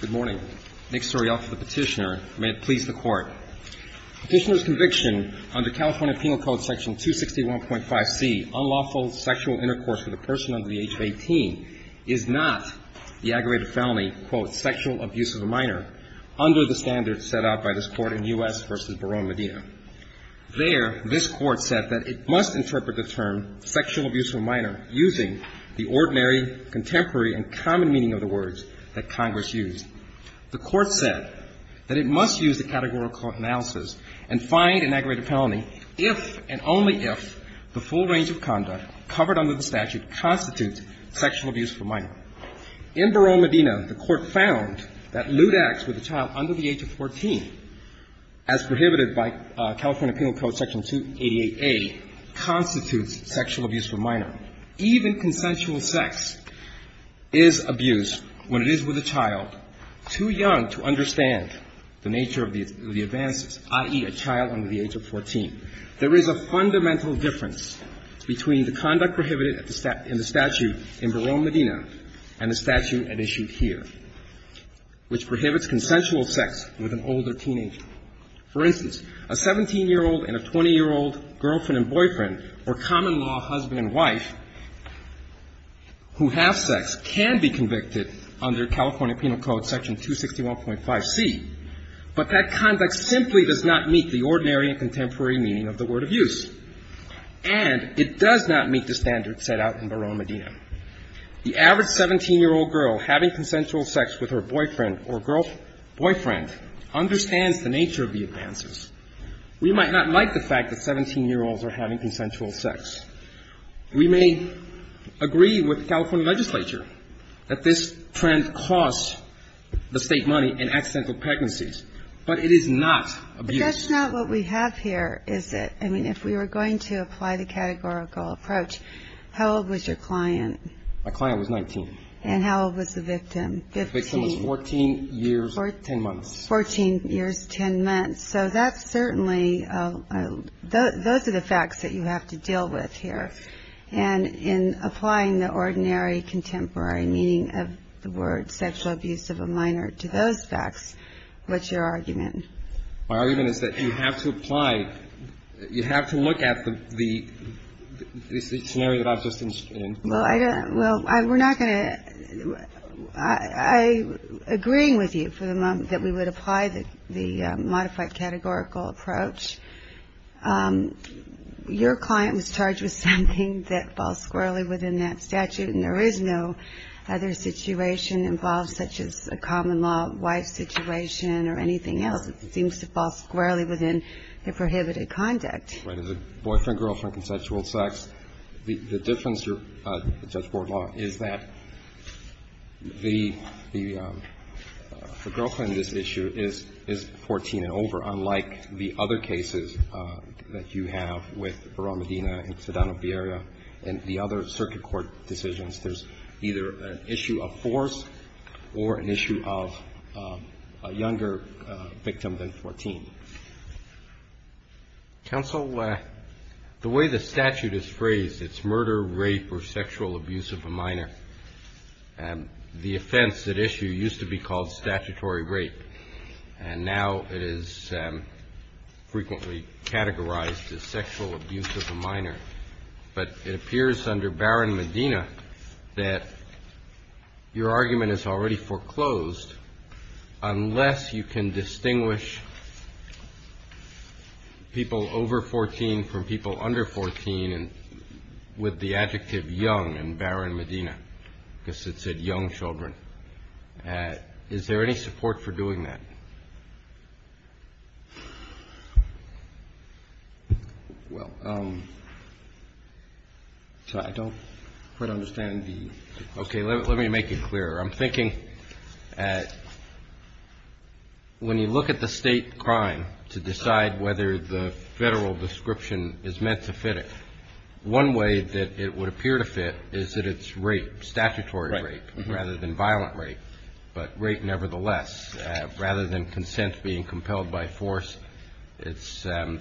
Good morning. Next story off of the petitioner. May it please the Court. Petitioner's conviction under California Penal Code section 261.5c, unlawful sexual intercourse with a person under the age of 18, is not the aggravated felony, quote, sexual abuse of a minor, under the standards set out by this Court in U.S. v. Barone Medina. There, this Court said that it must interpret the term sexual abuse of a minor using the ordinary, contemporary, and common meaning of the words that Congress used. The Court said that it must use the categorical analysis and find an aggravated felony if and only if the full range of conduct covered under the statute constitutes sexual abuse of a minor. In Barone Medina, the Court found that lewd acts with a child under the age of 14, as prohibited by California Penal Code section 288a, constitutes sexual abuse of a minor. Even consensual sex is abuse when it is with a child too young to understand the nature of the advances, i.e., a child under the age of 14. There is a fundamental difference between the conduct prohibited in the statute in Barone Medina and the statute at issue here, which prohibits consensual sex with an older teenager. For instance, a 17-year-old and a 20-year-old girlfriend and boyfriend or common-law husband and wife who have sex can be convicted under California Penal Code section 261.5c, but that conduct simply does not meet the ordinary and contemporary meaning of the word abuse. And it does not meet the standards set out in Barone Medina. The average 17-year-old girl having consensual sex with her boyfriend or girlfriend understands the nature of the advances. We might not like the fact that 17-year-olds are having consensual sex. We may agree with the California legislature that this trend costs the State money in accidental pregnancies. But it is not abuse. But that's not what we have here, is it? I mean, if we were going to apply the categorical approach, how old was your client? My client was 19. And how old was the victim? The victim was 14 years, 10 months. 14 years, 10 months. So that's certainly those are the facts that you have to deal with here. And in applying the ordinary contemporary meaning of the word sexual abuse of a minor to those facts, what's your argument? My argument is that you have to apply, you have to look at the scenario that I've just explained. Well, we're not going to, I'm agreeing with you for the moment that we would apply the modified categorical approach. Your client was charged with something that falls squarely within that statute, and there is no other situation involved such as a common law wife situation or anything else. It seems to fall squarely within the prohibited conduct. As a boyfriend, girlfriend, consensual sex, the difference, Judge Bortlaw, is that the girlfriend in this issue is 14 and over, unlike the other cases that you have with Barone Medina and Sedano-Bierio and the other circuit court decisions. There's either an issue of force or an issue of a younger victim than 14. Counsel, the way the statute is phrased, it's murder, rape, or sexual abuse of a minor. The offense at issue used to be called statutory rape, and now it is frequently categorized as sexual abuse of a minor. But it appears under Barone Medina that your argument is already foreclosed, unless you can distinguish people over 14 from people under 14 with the adjective young in Barone Medina, because it said young children. Is there any support for doing that? Well, I don't quite understand the ---- Okay. Let me make it clearer. I'm thinking when you look at the state crime to decide whether the federal description is meant to fit it, one way that it would appear to fit is that it's rape, statutory rape rather than violent rape, but rape nevertheless, rather than consent being compelled by force, it's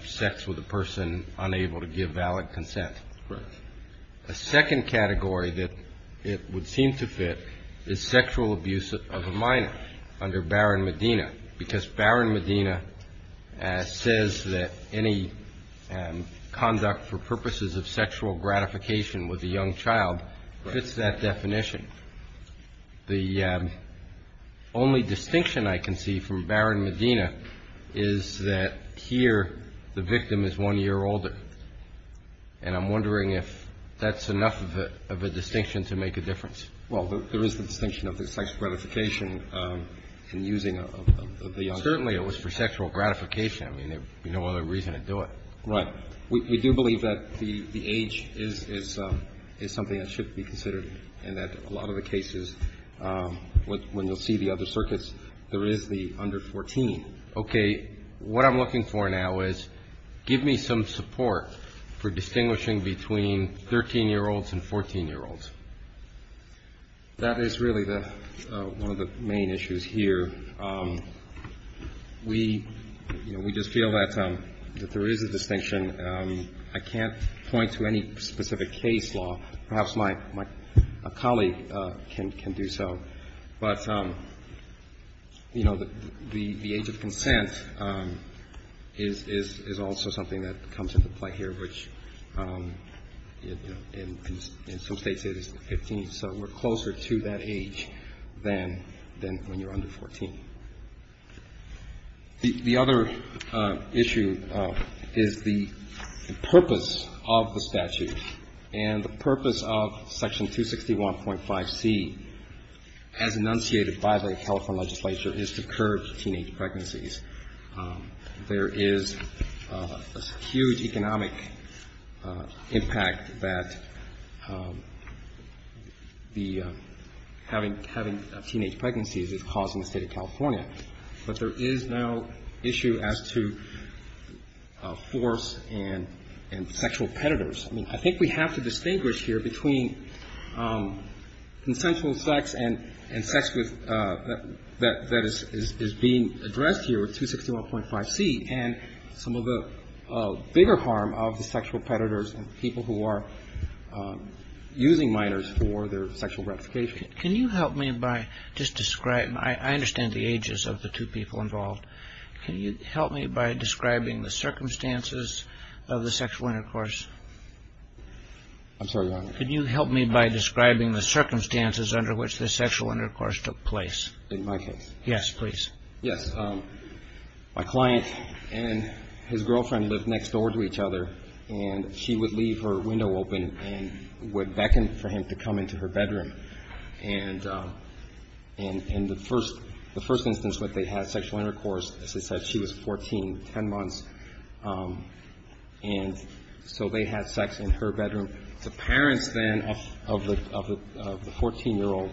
sex with a person unable to give valid consent. Right. A second category that it would seem to fit is sexual abuse of a minor under Barone Medina, because Barone Medina says that any conduct for purposes of sexual gratification with a young child fits that definition. The only distinction I can see from Barone Medina is that here the victim is one year older, and I'm wondering if that's enough of a distinction to make a difference. Well, there is the distinction of the sexual gratification in using a young child. Certainly it was for sexual gratification. I mean, there would be no other reason to do it. Right. We do believe that the age is something that should be considered and that a lot of the cases, when you'll see the other circuits, there is the under 14. Okay. What I'm looking for now is give me some support for distinguishing between 13-year-olds and 14-year-olds. That is really one of the main issues here. We just feel that there is a distinction. I can't point to any specific case law. Perhaps my colleague can do so. But, you know, the age of consent is also something that comes into play here, which in some States it is 15. So we're closer to that age than when you're under 14. The other issue is the purpose of the statute and the purpose of Section 261.5C, as enunciated by the California legislature, is to curb teenage pregnancies. There is a huge economic impact that having teenage pregnancies is causing the State of California. But there is now issue as to force and sexual predators. I mean, I think we have to distinguish here between consensual sex and sex that is being addressed here with 261.5C and some of the bigger harm of the sexual predators and people who are using minors for their sexual gratification. Can you help me by just describing – I understand the ages of the two people involved. Can you help me by describing the circumstances of the sexual intercourse? I'm sorry, Your Honor. Can you help me by describing the circumstances under which the sexual intercourse took place? In my case? Yes, please. Yes. My client and his girlfriend lived next door to each other, and she would leave her window open and would beckon for him to come into her bedroom. And the first instance that they had sexual intercourse, as I said, she was 14, 10 months. And so they had sex in her bedroom. The parents then of the 14-year-old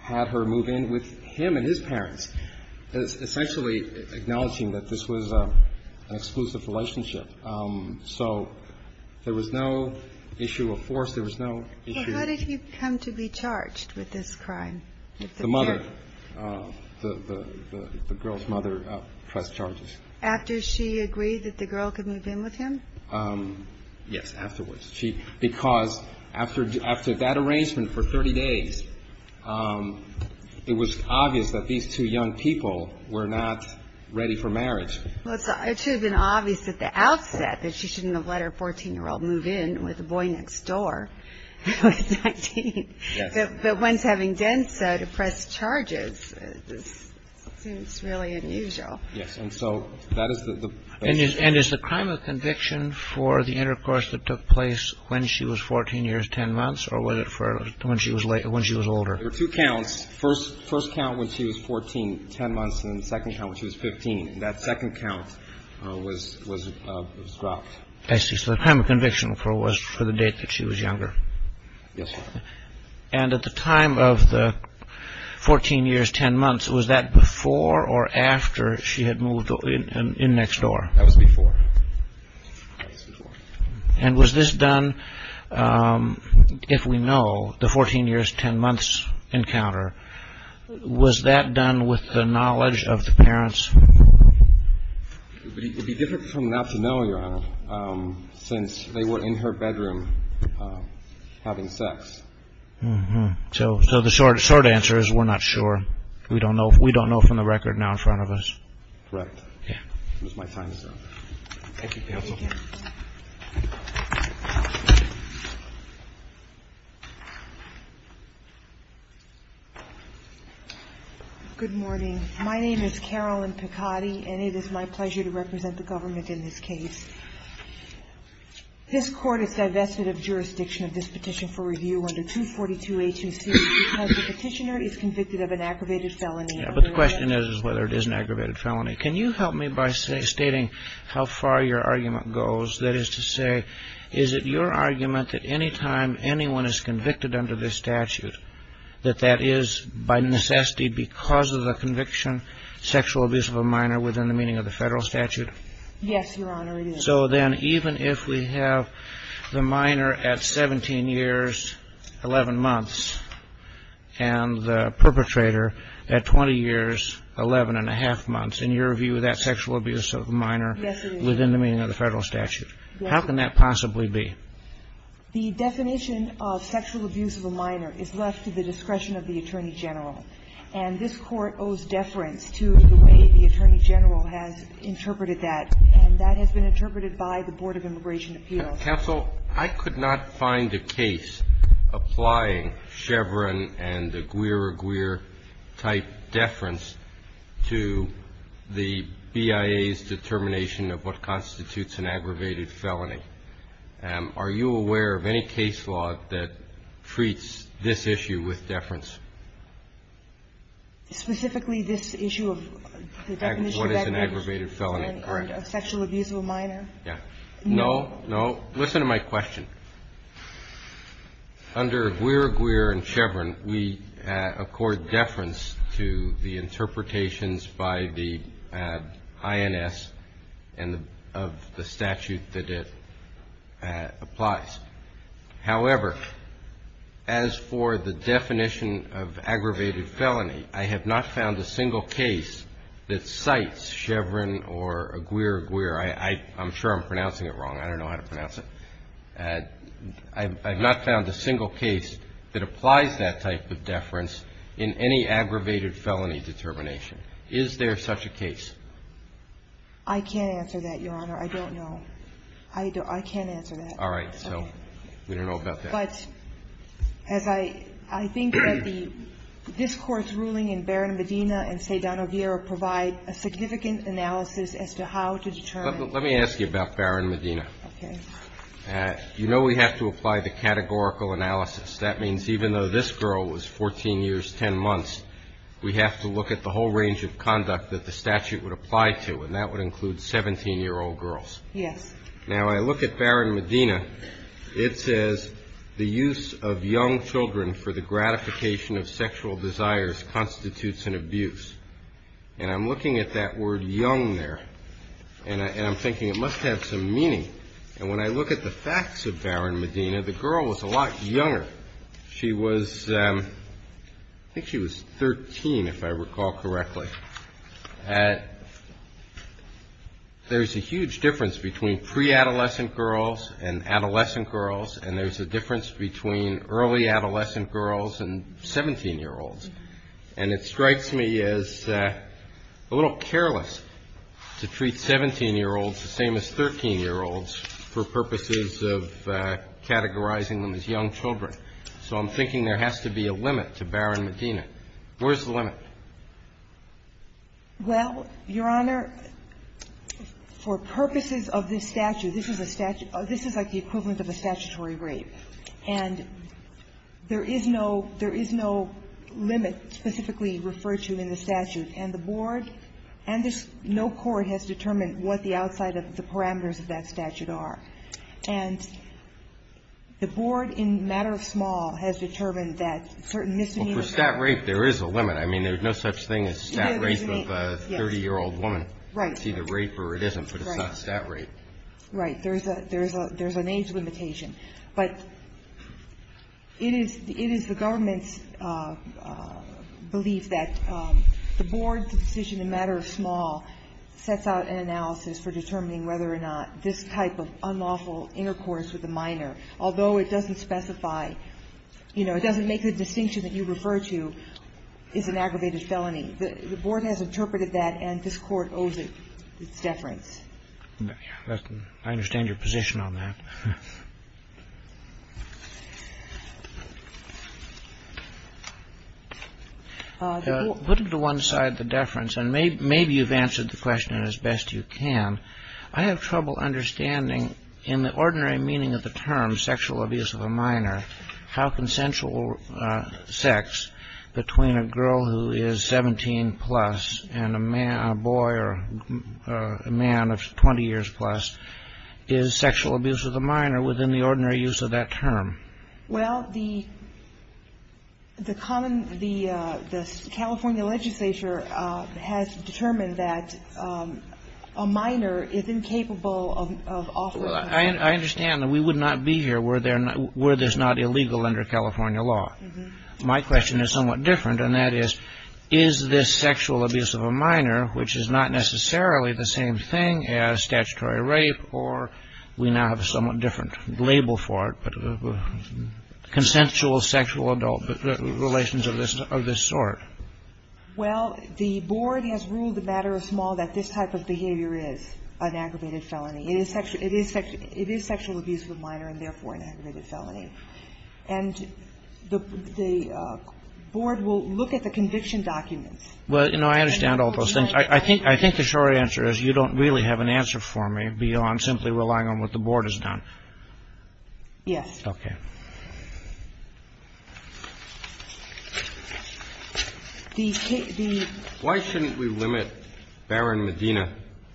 had her move in with him and his parents, essentially acknowledging that this was an exclusive relationship. So there was no issue of force. There was no issue of – Did she come to be charged with this crime? The mother. The girl's mother pressed charges. After she agreed that the girl could move in with him? Yes, afterwards. Because after that arrangement for 30 days, it was obvious that these two young people were not ready for marriage. Well, it should have been obvious at the outset that she shouldn't have let her 14-year-old move in with the boy next door who was 19. Yes. But once having done so to press charges, it's really unusual. Yes. And so that is the basis. And is the crime of conviction for the intercourse that took place when she was 14 years, 10 months, or was it when she was older? There were two counts. First count when she was 14, 10 months, and then the second count when she was 15. That second count was dropped. I see. So the crime of conviction was for the date that she was younger. Yes. And at the time of the 14 years, 10 months, was that before or after she had moved in next door? That was before. That was before. And was this done, if we know, the 14 years, 10 months encounter, was that done with the knowledge of the parents? It would be different from not to know, Your Honor, since they were in her bedroom having sex. So the short answer is we're not sure. We don't know from the record now in front of us. Correct. Yeah. Thank you, counsel. Thank you. Good morning. My name is Carolyn Picotti, and it is my pleasure to represent the government in this case. This Court is divested of jurisdiction of this petition for review under 242A2C because the petitioner is convicted of an aggravated felony. Yeah, but the question is whether it is an aggravated felony. Can you help me by stating how far your argument goes? That is to say, is it your argument that any time anyone is convicted under this statute, that that is by necessity because of the conviction, sexual abuse of a minor within the meaning of the federal statute? So then even if we have the minor at 17 years, 11 months, and the perpetrator at 20 years, 11 and a half months, in your view, that's sexual abuse of a minor within the meaning of the federal statute. Yes, it is. How can that possibly be? The definition of sexual abuse of a minor is left to the discretion of the Attorney General. And this Court owes deference to the way the Attorney General has interpreted that. And that has been interpreted by the Board of Immigration Appeals. Counsel, I could not find a case applying Chevron and the Guerre-Guerre-type deference to the BIA's determination of what constitutes an aggravated felony. Are you aware of any case law that treats this issue with deference? Specifically, this issue of the definition of aggravated felony. Correct. And of sexual abuse of a minor? Yeah. No, no. Listen to my question. Under Guerre-Guerre and Chevron, we accord deference to the interpretations by the INS and of the statute that it applies. However, as for the definition of aggravated felony, I have not found a single case that cites Chevron or Guerre-Guerre. I'm sure I'm pronouncing it wrong. I don't know how to pronounce it. I have not found a single case that applies that type of deference in any aggravated felony determination. Is there such a case? I can't answer that, Your Honor. I don't know. I can't answer that. All right. So we don't know about that. But as I think that the discourse ruling in Barron-Medina and Sedano-Guerre provide a significant analysis as to how to determine. Let me ask you about Barron-Medina. Okay. You know we have to apply the categorical analysis. That means even though this girl was 14 years, 10 months, we have to look at the whole range of conduct that the statute would apply to, and that would include 17-year-old Yes. Now, I look at Barron-Medina. It says the use of young children for the gratification of sexual desires constitutes an abuse. And I'm looking at that word young there, and I'm thinking it must have some meaning. And when I look at the facts of Barron-Medina, the girl was a lot younger. She was, I think she was 13, if I recall correctly. There's a huge difference between pre-adolescent girls and adolescent girls, and there's a difference between early adolescent girls and 17-year-olds. And it strikes me as a little careless to treat 17-year-olds the same as 13-year-olds for purposes of categorizing them as young children. So I'm thinking there has to be a limit to Barron-Medina. Where's the limit? Well, Your Honor, for purposes of this statute, this is a statute of the equivalent of a statutory rape. And there is no limit specifically referred to in the statute. And the board and no court has determined what the outside of the parameters of that statute are. And the board, in a matter of small, has determined that certain misdemeanors Well, for stat rape, there is a limit. I mean, there's no such thing as stat rape of a 30-year-old woman. Right. It's either rape or it isn't, but it's not stat rape. Right. There's an age limitation. But it is the government's belief that the board's decision, in a matter of small, sets out an analysis for determining whether or not this type of unlawful intercourse with a minor. Although it doesn't specify, you know, it doesn't make the distinction that you refer to is an aggravated felony. The board has interpreted that, and this Court owes its deference. I understand your position on that. Put to one side the deference, and maybe you've answered the question as best you can. I have trouble understanding, in the ordinary meaning of the term sexual abuse of a minor, how consensual sex between a girl who is 17-plus and a boy or a man of 20 years-plus is sexual abuse of the minor within the ordinary use of that term. Well, the common, the California legislature has determined that a minor is incapable of offering sexual abuse. Well, I understand that we would not be here were there not illegal under California law. My question is somewhat different, and that is, is this sexual abuse of a minor, which is not necessarily the same thing as statutory rape, or we now have a somewhat different label for it, but consensual sexual adult relations of this sort? Well, the board has ruled the matter of small that this type of behavior is an aggravated felony. It is sexual abuse of a minor and, therefore, an aggravated felony. And the board will look at the conviction documents. Well, you know, I understand all those things. I think the short answer is you don't really have an answer for me beyond simply relying on what the board has done. Yes. Okay. Why shouldn't we limit Baron Medina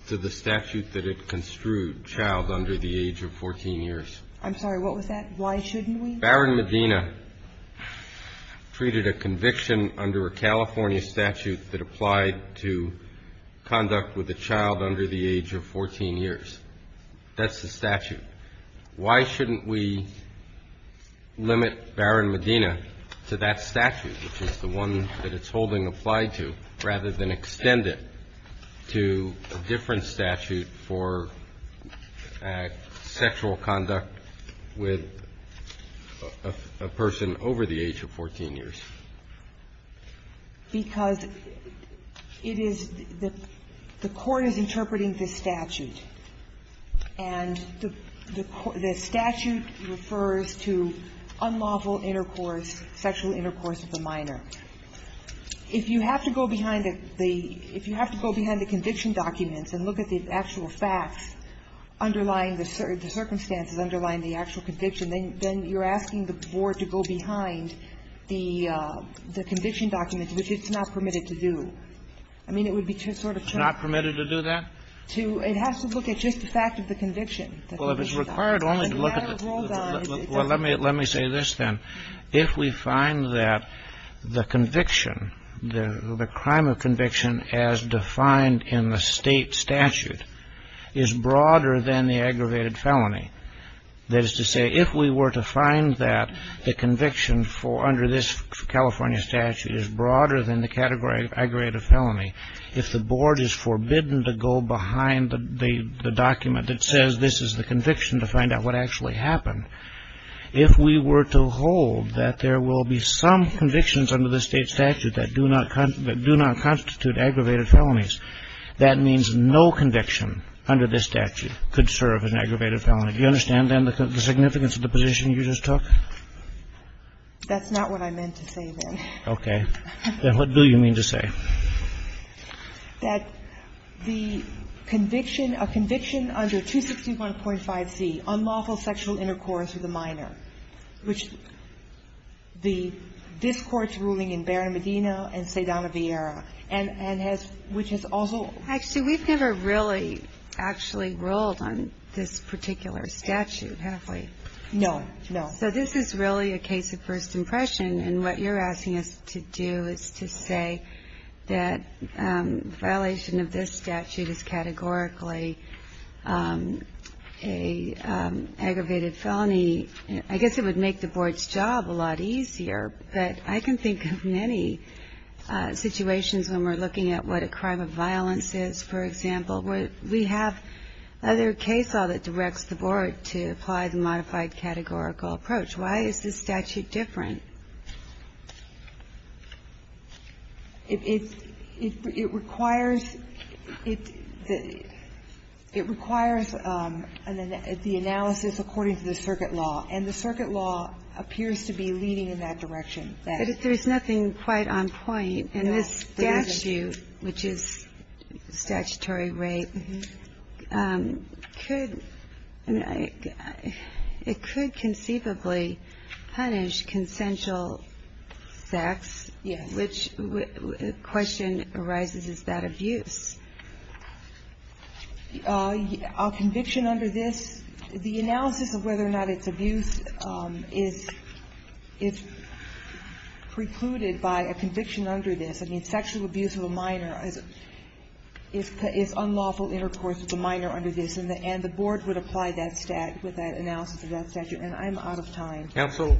to the statute that it construed, child under the age of 14 years? I'm sorry. What was that? Why shouldn't we? Baron Medina treated a conviction under a California statute that applied to conduct with a child under the age of 14 years. That's the statute. Why shouldn't we limit Baron Medina to that statute, which is the one that it's holding applied to, rather than extend it to a different statute for sexual conduct with a person over the age of 14 years? Because it is the court is interpreting this statute, and the statute refers to unlawful intercourse, sexual intercourse with a minor. If you have to go behind the conviction documents and look at the actual facts underlying the circumstances underlying the actual conviction, then you're asking the board to go behind the conviction documents, which it's not permitted to do. I mean, it would be sort of too much. It's not permitted to do that? It has to look at just the fact of the conviction. Well, if it's required only to look at the – well, let me say this, then. If we find that the conviction, the crime of conviction as defined in the State statute is broader than the aggravated felony, that is to say, if we were to find that the conviction under this California statute is broader than the category of aggravated felony, if the board is forbidden to go behind the document that says this is the conviction to find out what actually happened, if we were to hold that there will be some convictions under the State statute that do not constitute aggravated felonies, that means no conviction under this statute could serve as an aggravated felony. Do you understand, then, the significance of the position you just took? That's not what I meant to say, then. Okay. Then what do you mean to say? That the conviction, a conviction under 261.5c, unlawful sexual intercourse with a minor, which the – this Court's ruling in Barron-Medina and Sedana-Villera, and has – which has also – Actually, we've never really actually ruled on this particular statute, have we? No, no. So this is really a case of first impression, and what you're asking us to do is to say that violation of this statute is categorically an aggravated felony. I guess it would make the board's job a lot easier, but I can think of many situations when we're looking at what a crime of violence is, for example, where we have other case law that directs the board to apply the modified categorical approach. Why is this statute different? It requires – it requires the analysis according to the circuit law. And the circuit law appears to be leading in that direction. But there's nothing quite on point. No, there isn't. The statute, which is statutory rape, could – I mean, it could conceivably punish consensual sex. Yes. Which question arises, is that abuse? A conviction under this – the analysis of whether or not it's abuse is precluded by a conviction under this. I mean, sexual abuse of a minor is unlawful intercourse with a minor under this. And the board would apply that stat – with that analysis of that statute. And I'm out of time. Counsel,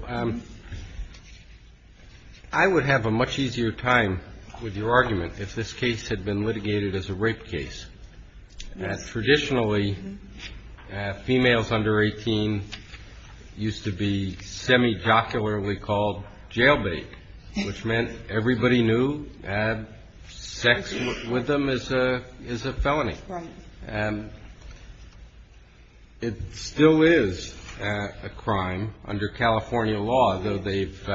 I would have a much easier time with your argument if this case had been litigated as a rape case. Traditionally, females under 18 used to be semi-jocularly called jailbait, which meant everybody knew sex with them is a felony. Right. And it still is a crime under California law, though they've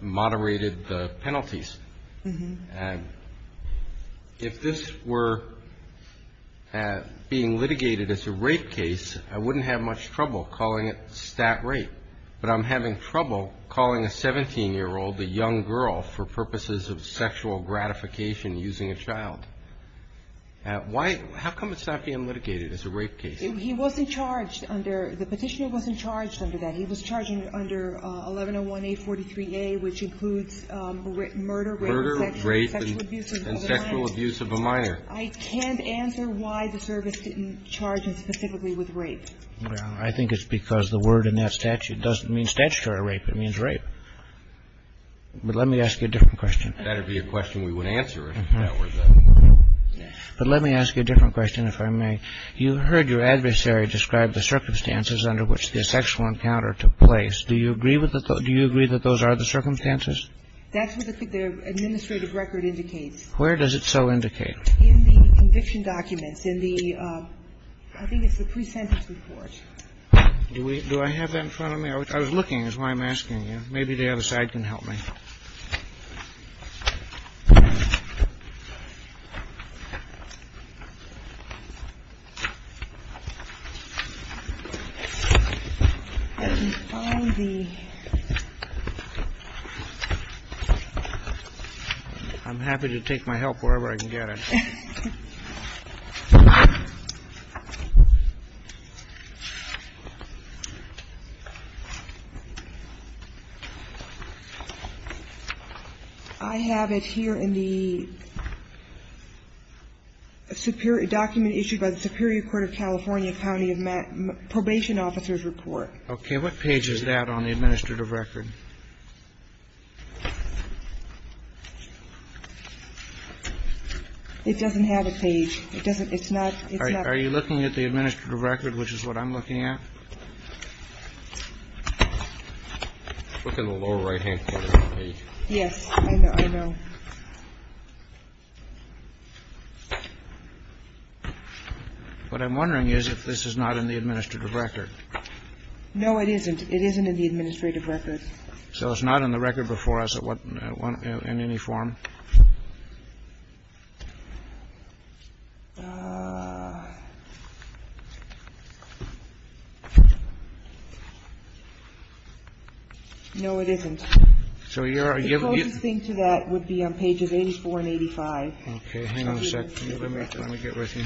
moderated the penalties. And if this were being litigated as a rape case, I wouldn't have much trouble calling it stat rape. But I'm having trouble calling a 17-year-old, a young girl, for purposes of sexual gratification using a child. Why – how come it's not being litigated as a rape case? He wasn't charged under – the Petitioner wasn't charged under that. He was charged under 1101A43A, which includes murder, rape, sexual abuse of a minor. Murder, rape, and sexual abuse of a minor. I can't answer why the service didn't charge him specifically with rape. Well, I think it's because the word in that statute doesn't mean statutory rape. It means rape. But let me ask you a different question. That would be a question we would answer if that were the case. But let me ask you a different question, if I may. You heard your adversary describe the circumstances under which the sexual encounter took place. Do you agree with the – do you agree that those are the circumstances? That's what the administrative record indicates. Where does it so indicate? In the conviction documents, in the – I think it's the pre-sentence report. Do we – do I have that in front of me? I was looking. That's why I'm asking you. Maybe the other side can help me. I'm happy to take my help wherever I can get it. I have it here in the superior – document issued by the Superior Court of California County of Probation Officers Report. Okay. What page is that on the administrative record? It doesn't have a page. It's not. Are you looking at the administrative record, which is what I'm looking at? Look in the lower right-hand corner of the page. Yes. I know. What I'm wondering is if this is not in the administrative record. No, it isn't. It isn't in the administrative record. So it's not on the record before us in any form? No, it isn't. So you're – The closest thing to that would be on pages 84 and 85. Okay. Let me get with you.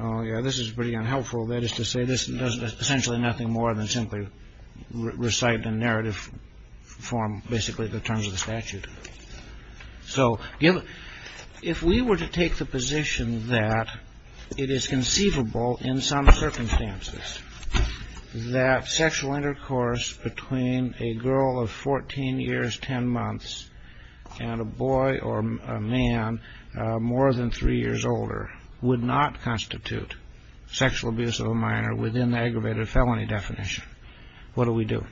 Oh, yeah, this is pretty unhelpful. That is to say, this does essentially nothing more than simply recite the narrative form, basically the terms of the statute. So if we were to take the position that it is conceivable in some circumstances that sexual intercourse between a girl of 14 years, 10 months, and a boy or a man more than three years older would not constitute sexual abuse of a minor within the aggravated felony definition, what do we do?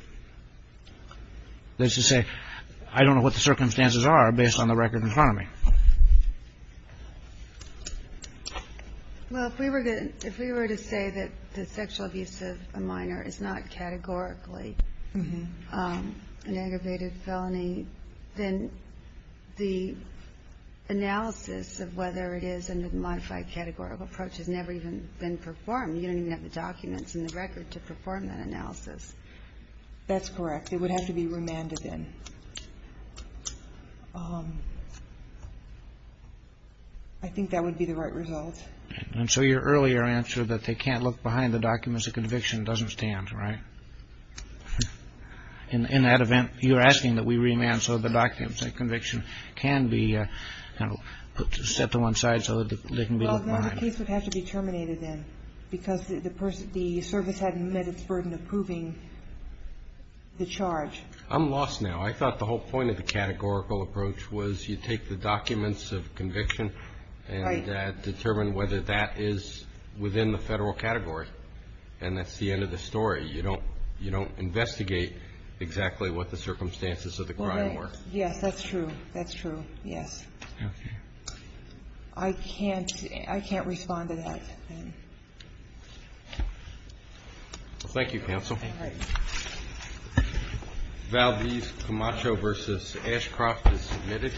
That is to say, I don't know what the circumstances are based on the record in front of me. Well, if we were to say that sexual abuse of a minor is not categorically an aggravated felony, then the analysis of whether it is under the modified categorical approach has never even been performed. You don't even have the documents in the record to perform that analysis. That's correct. It would have to be remanded then. I think that would be the right result. And so your earlier answer that they can't look behind the documents of conviction doesn't stand, right? In that event, you're asking that we remand so the documents of conviction can be set to one side so that they can be looked behind. Well, then the case would have to be terminated then because the service hadn't met its burden of proving the charge. I'm lost now. I thought the whole point of the categorical approach was you take the documents of conviction and determine whether that is within the federal category, and that's the end of the story. You don't investigate exactly what the circumstances of the crime were. Yes, that's true. That's true, yes. Okay. I can't respond to that. Thank you, counsel. All right. Valdez Camacho v. Ashcroft is submitted.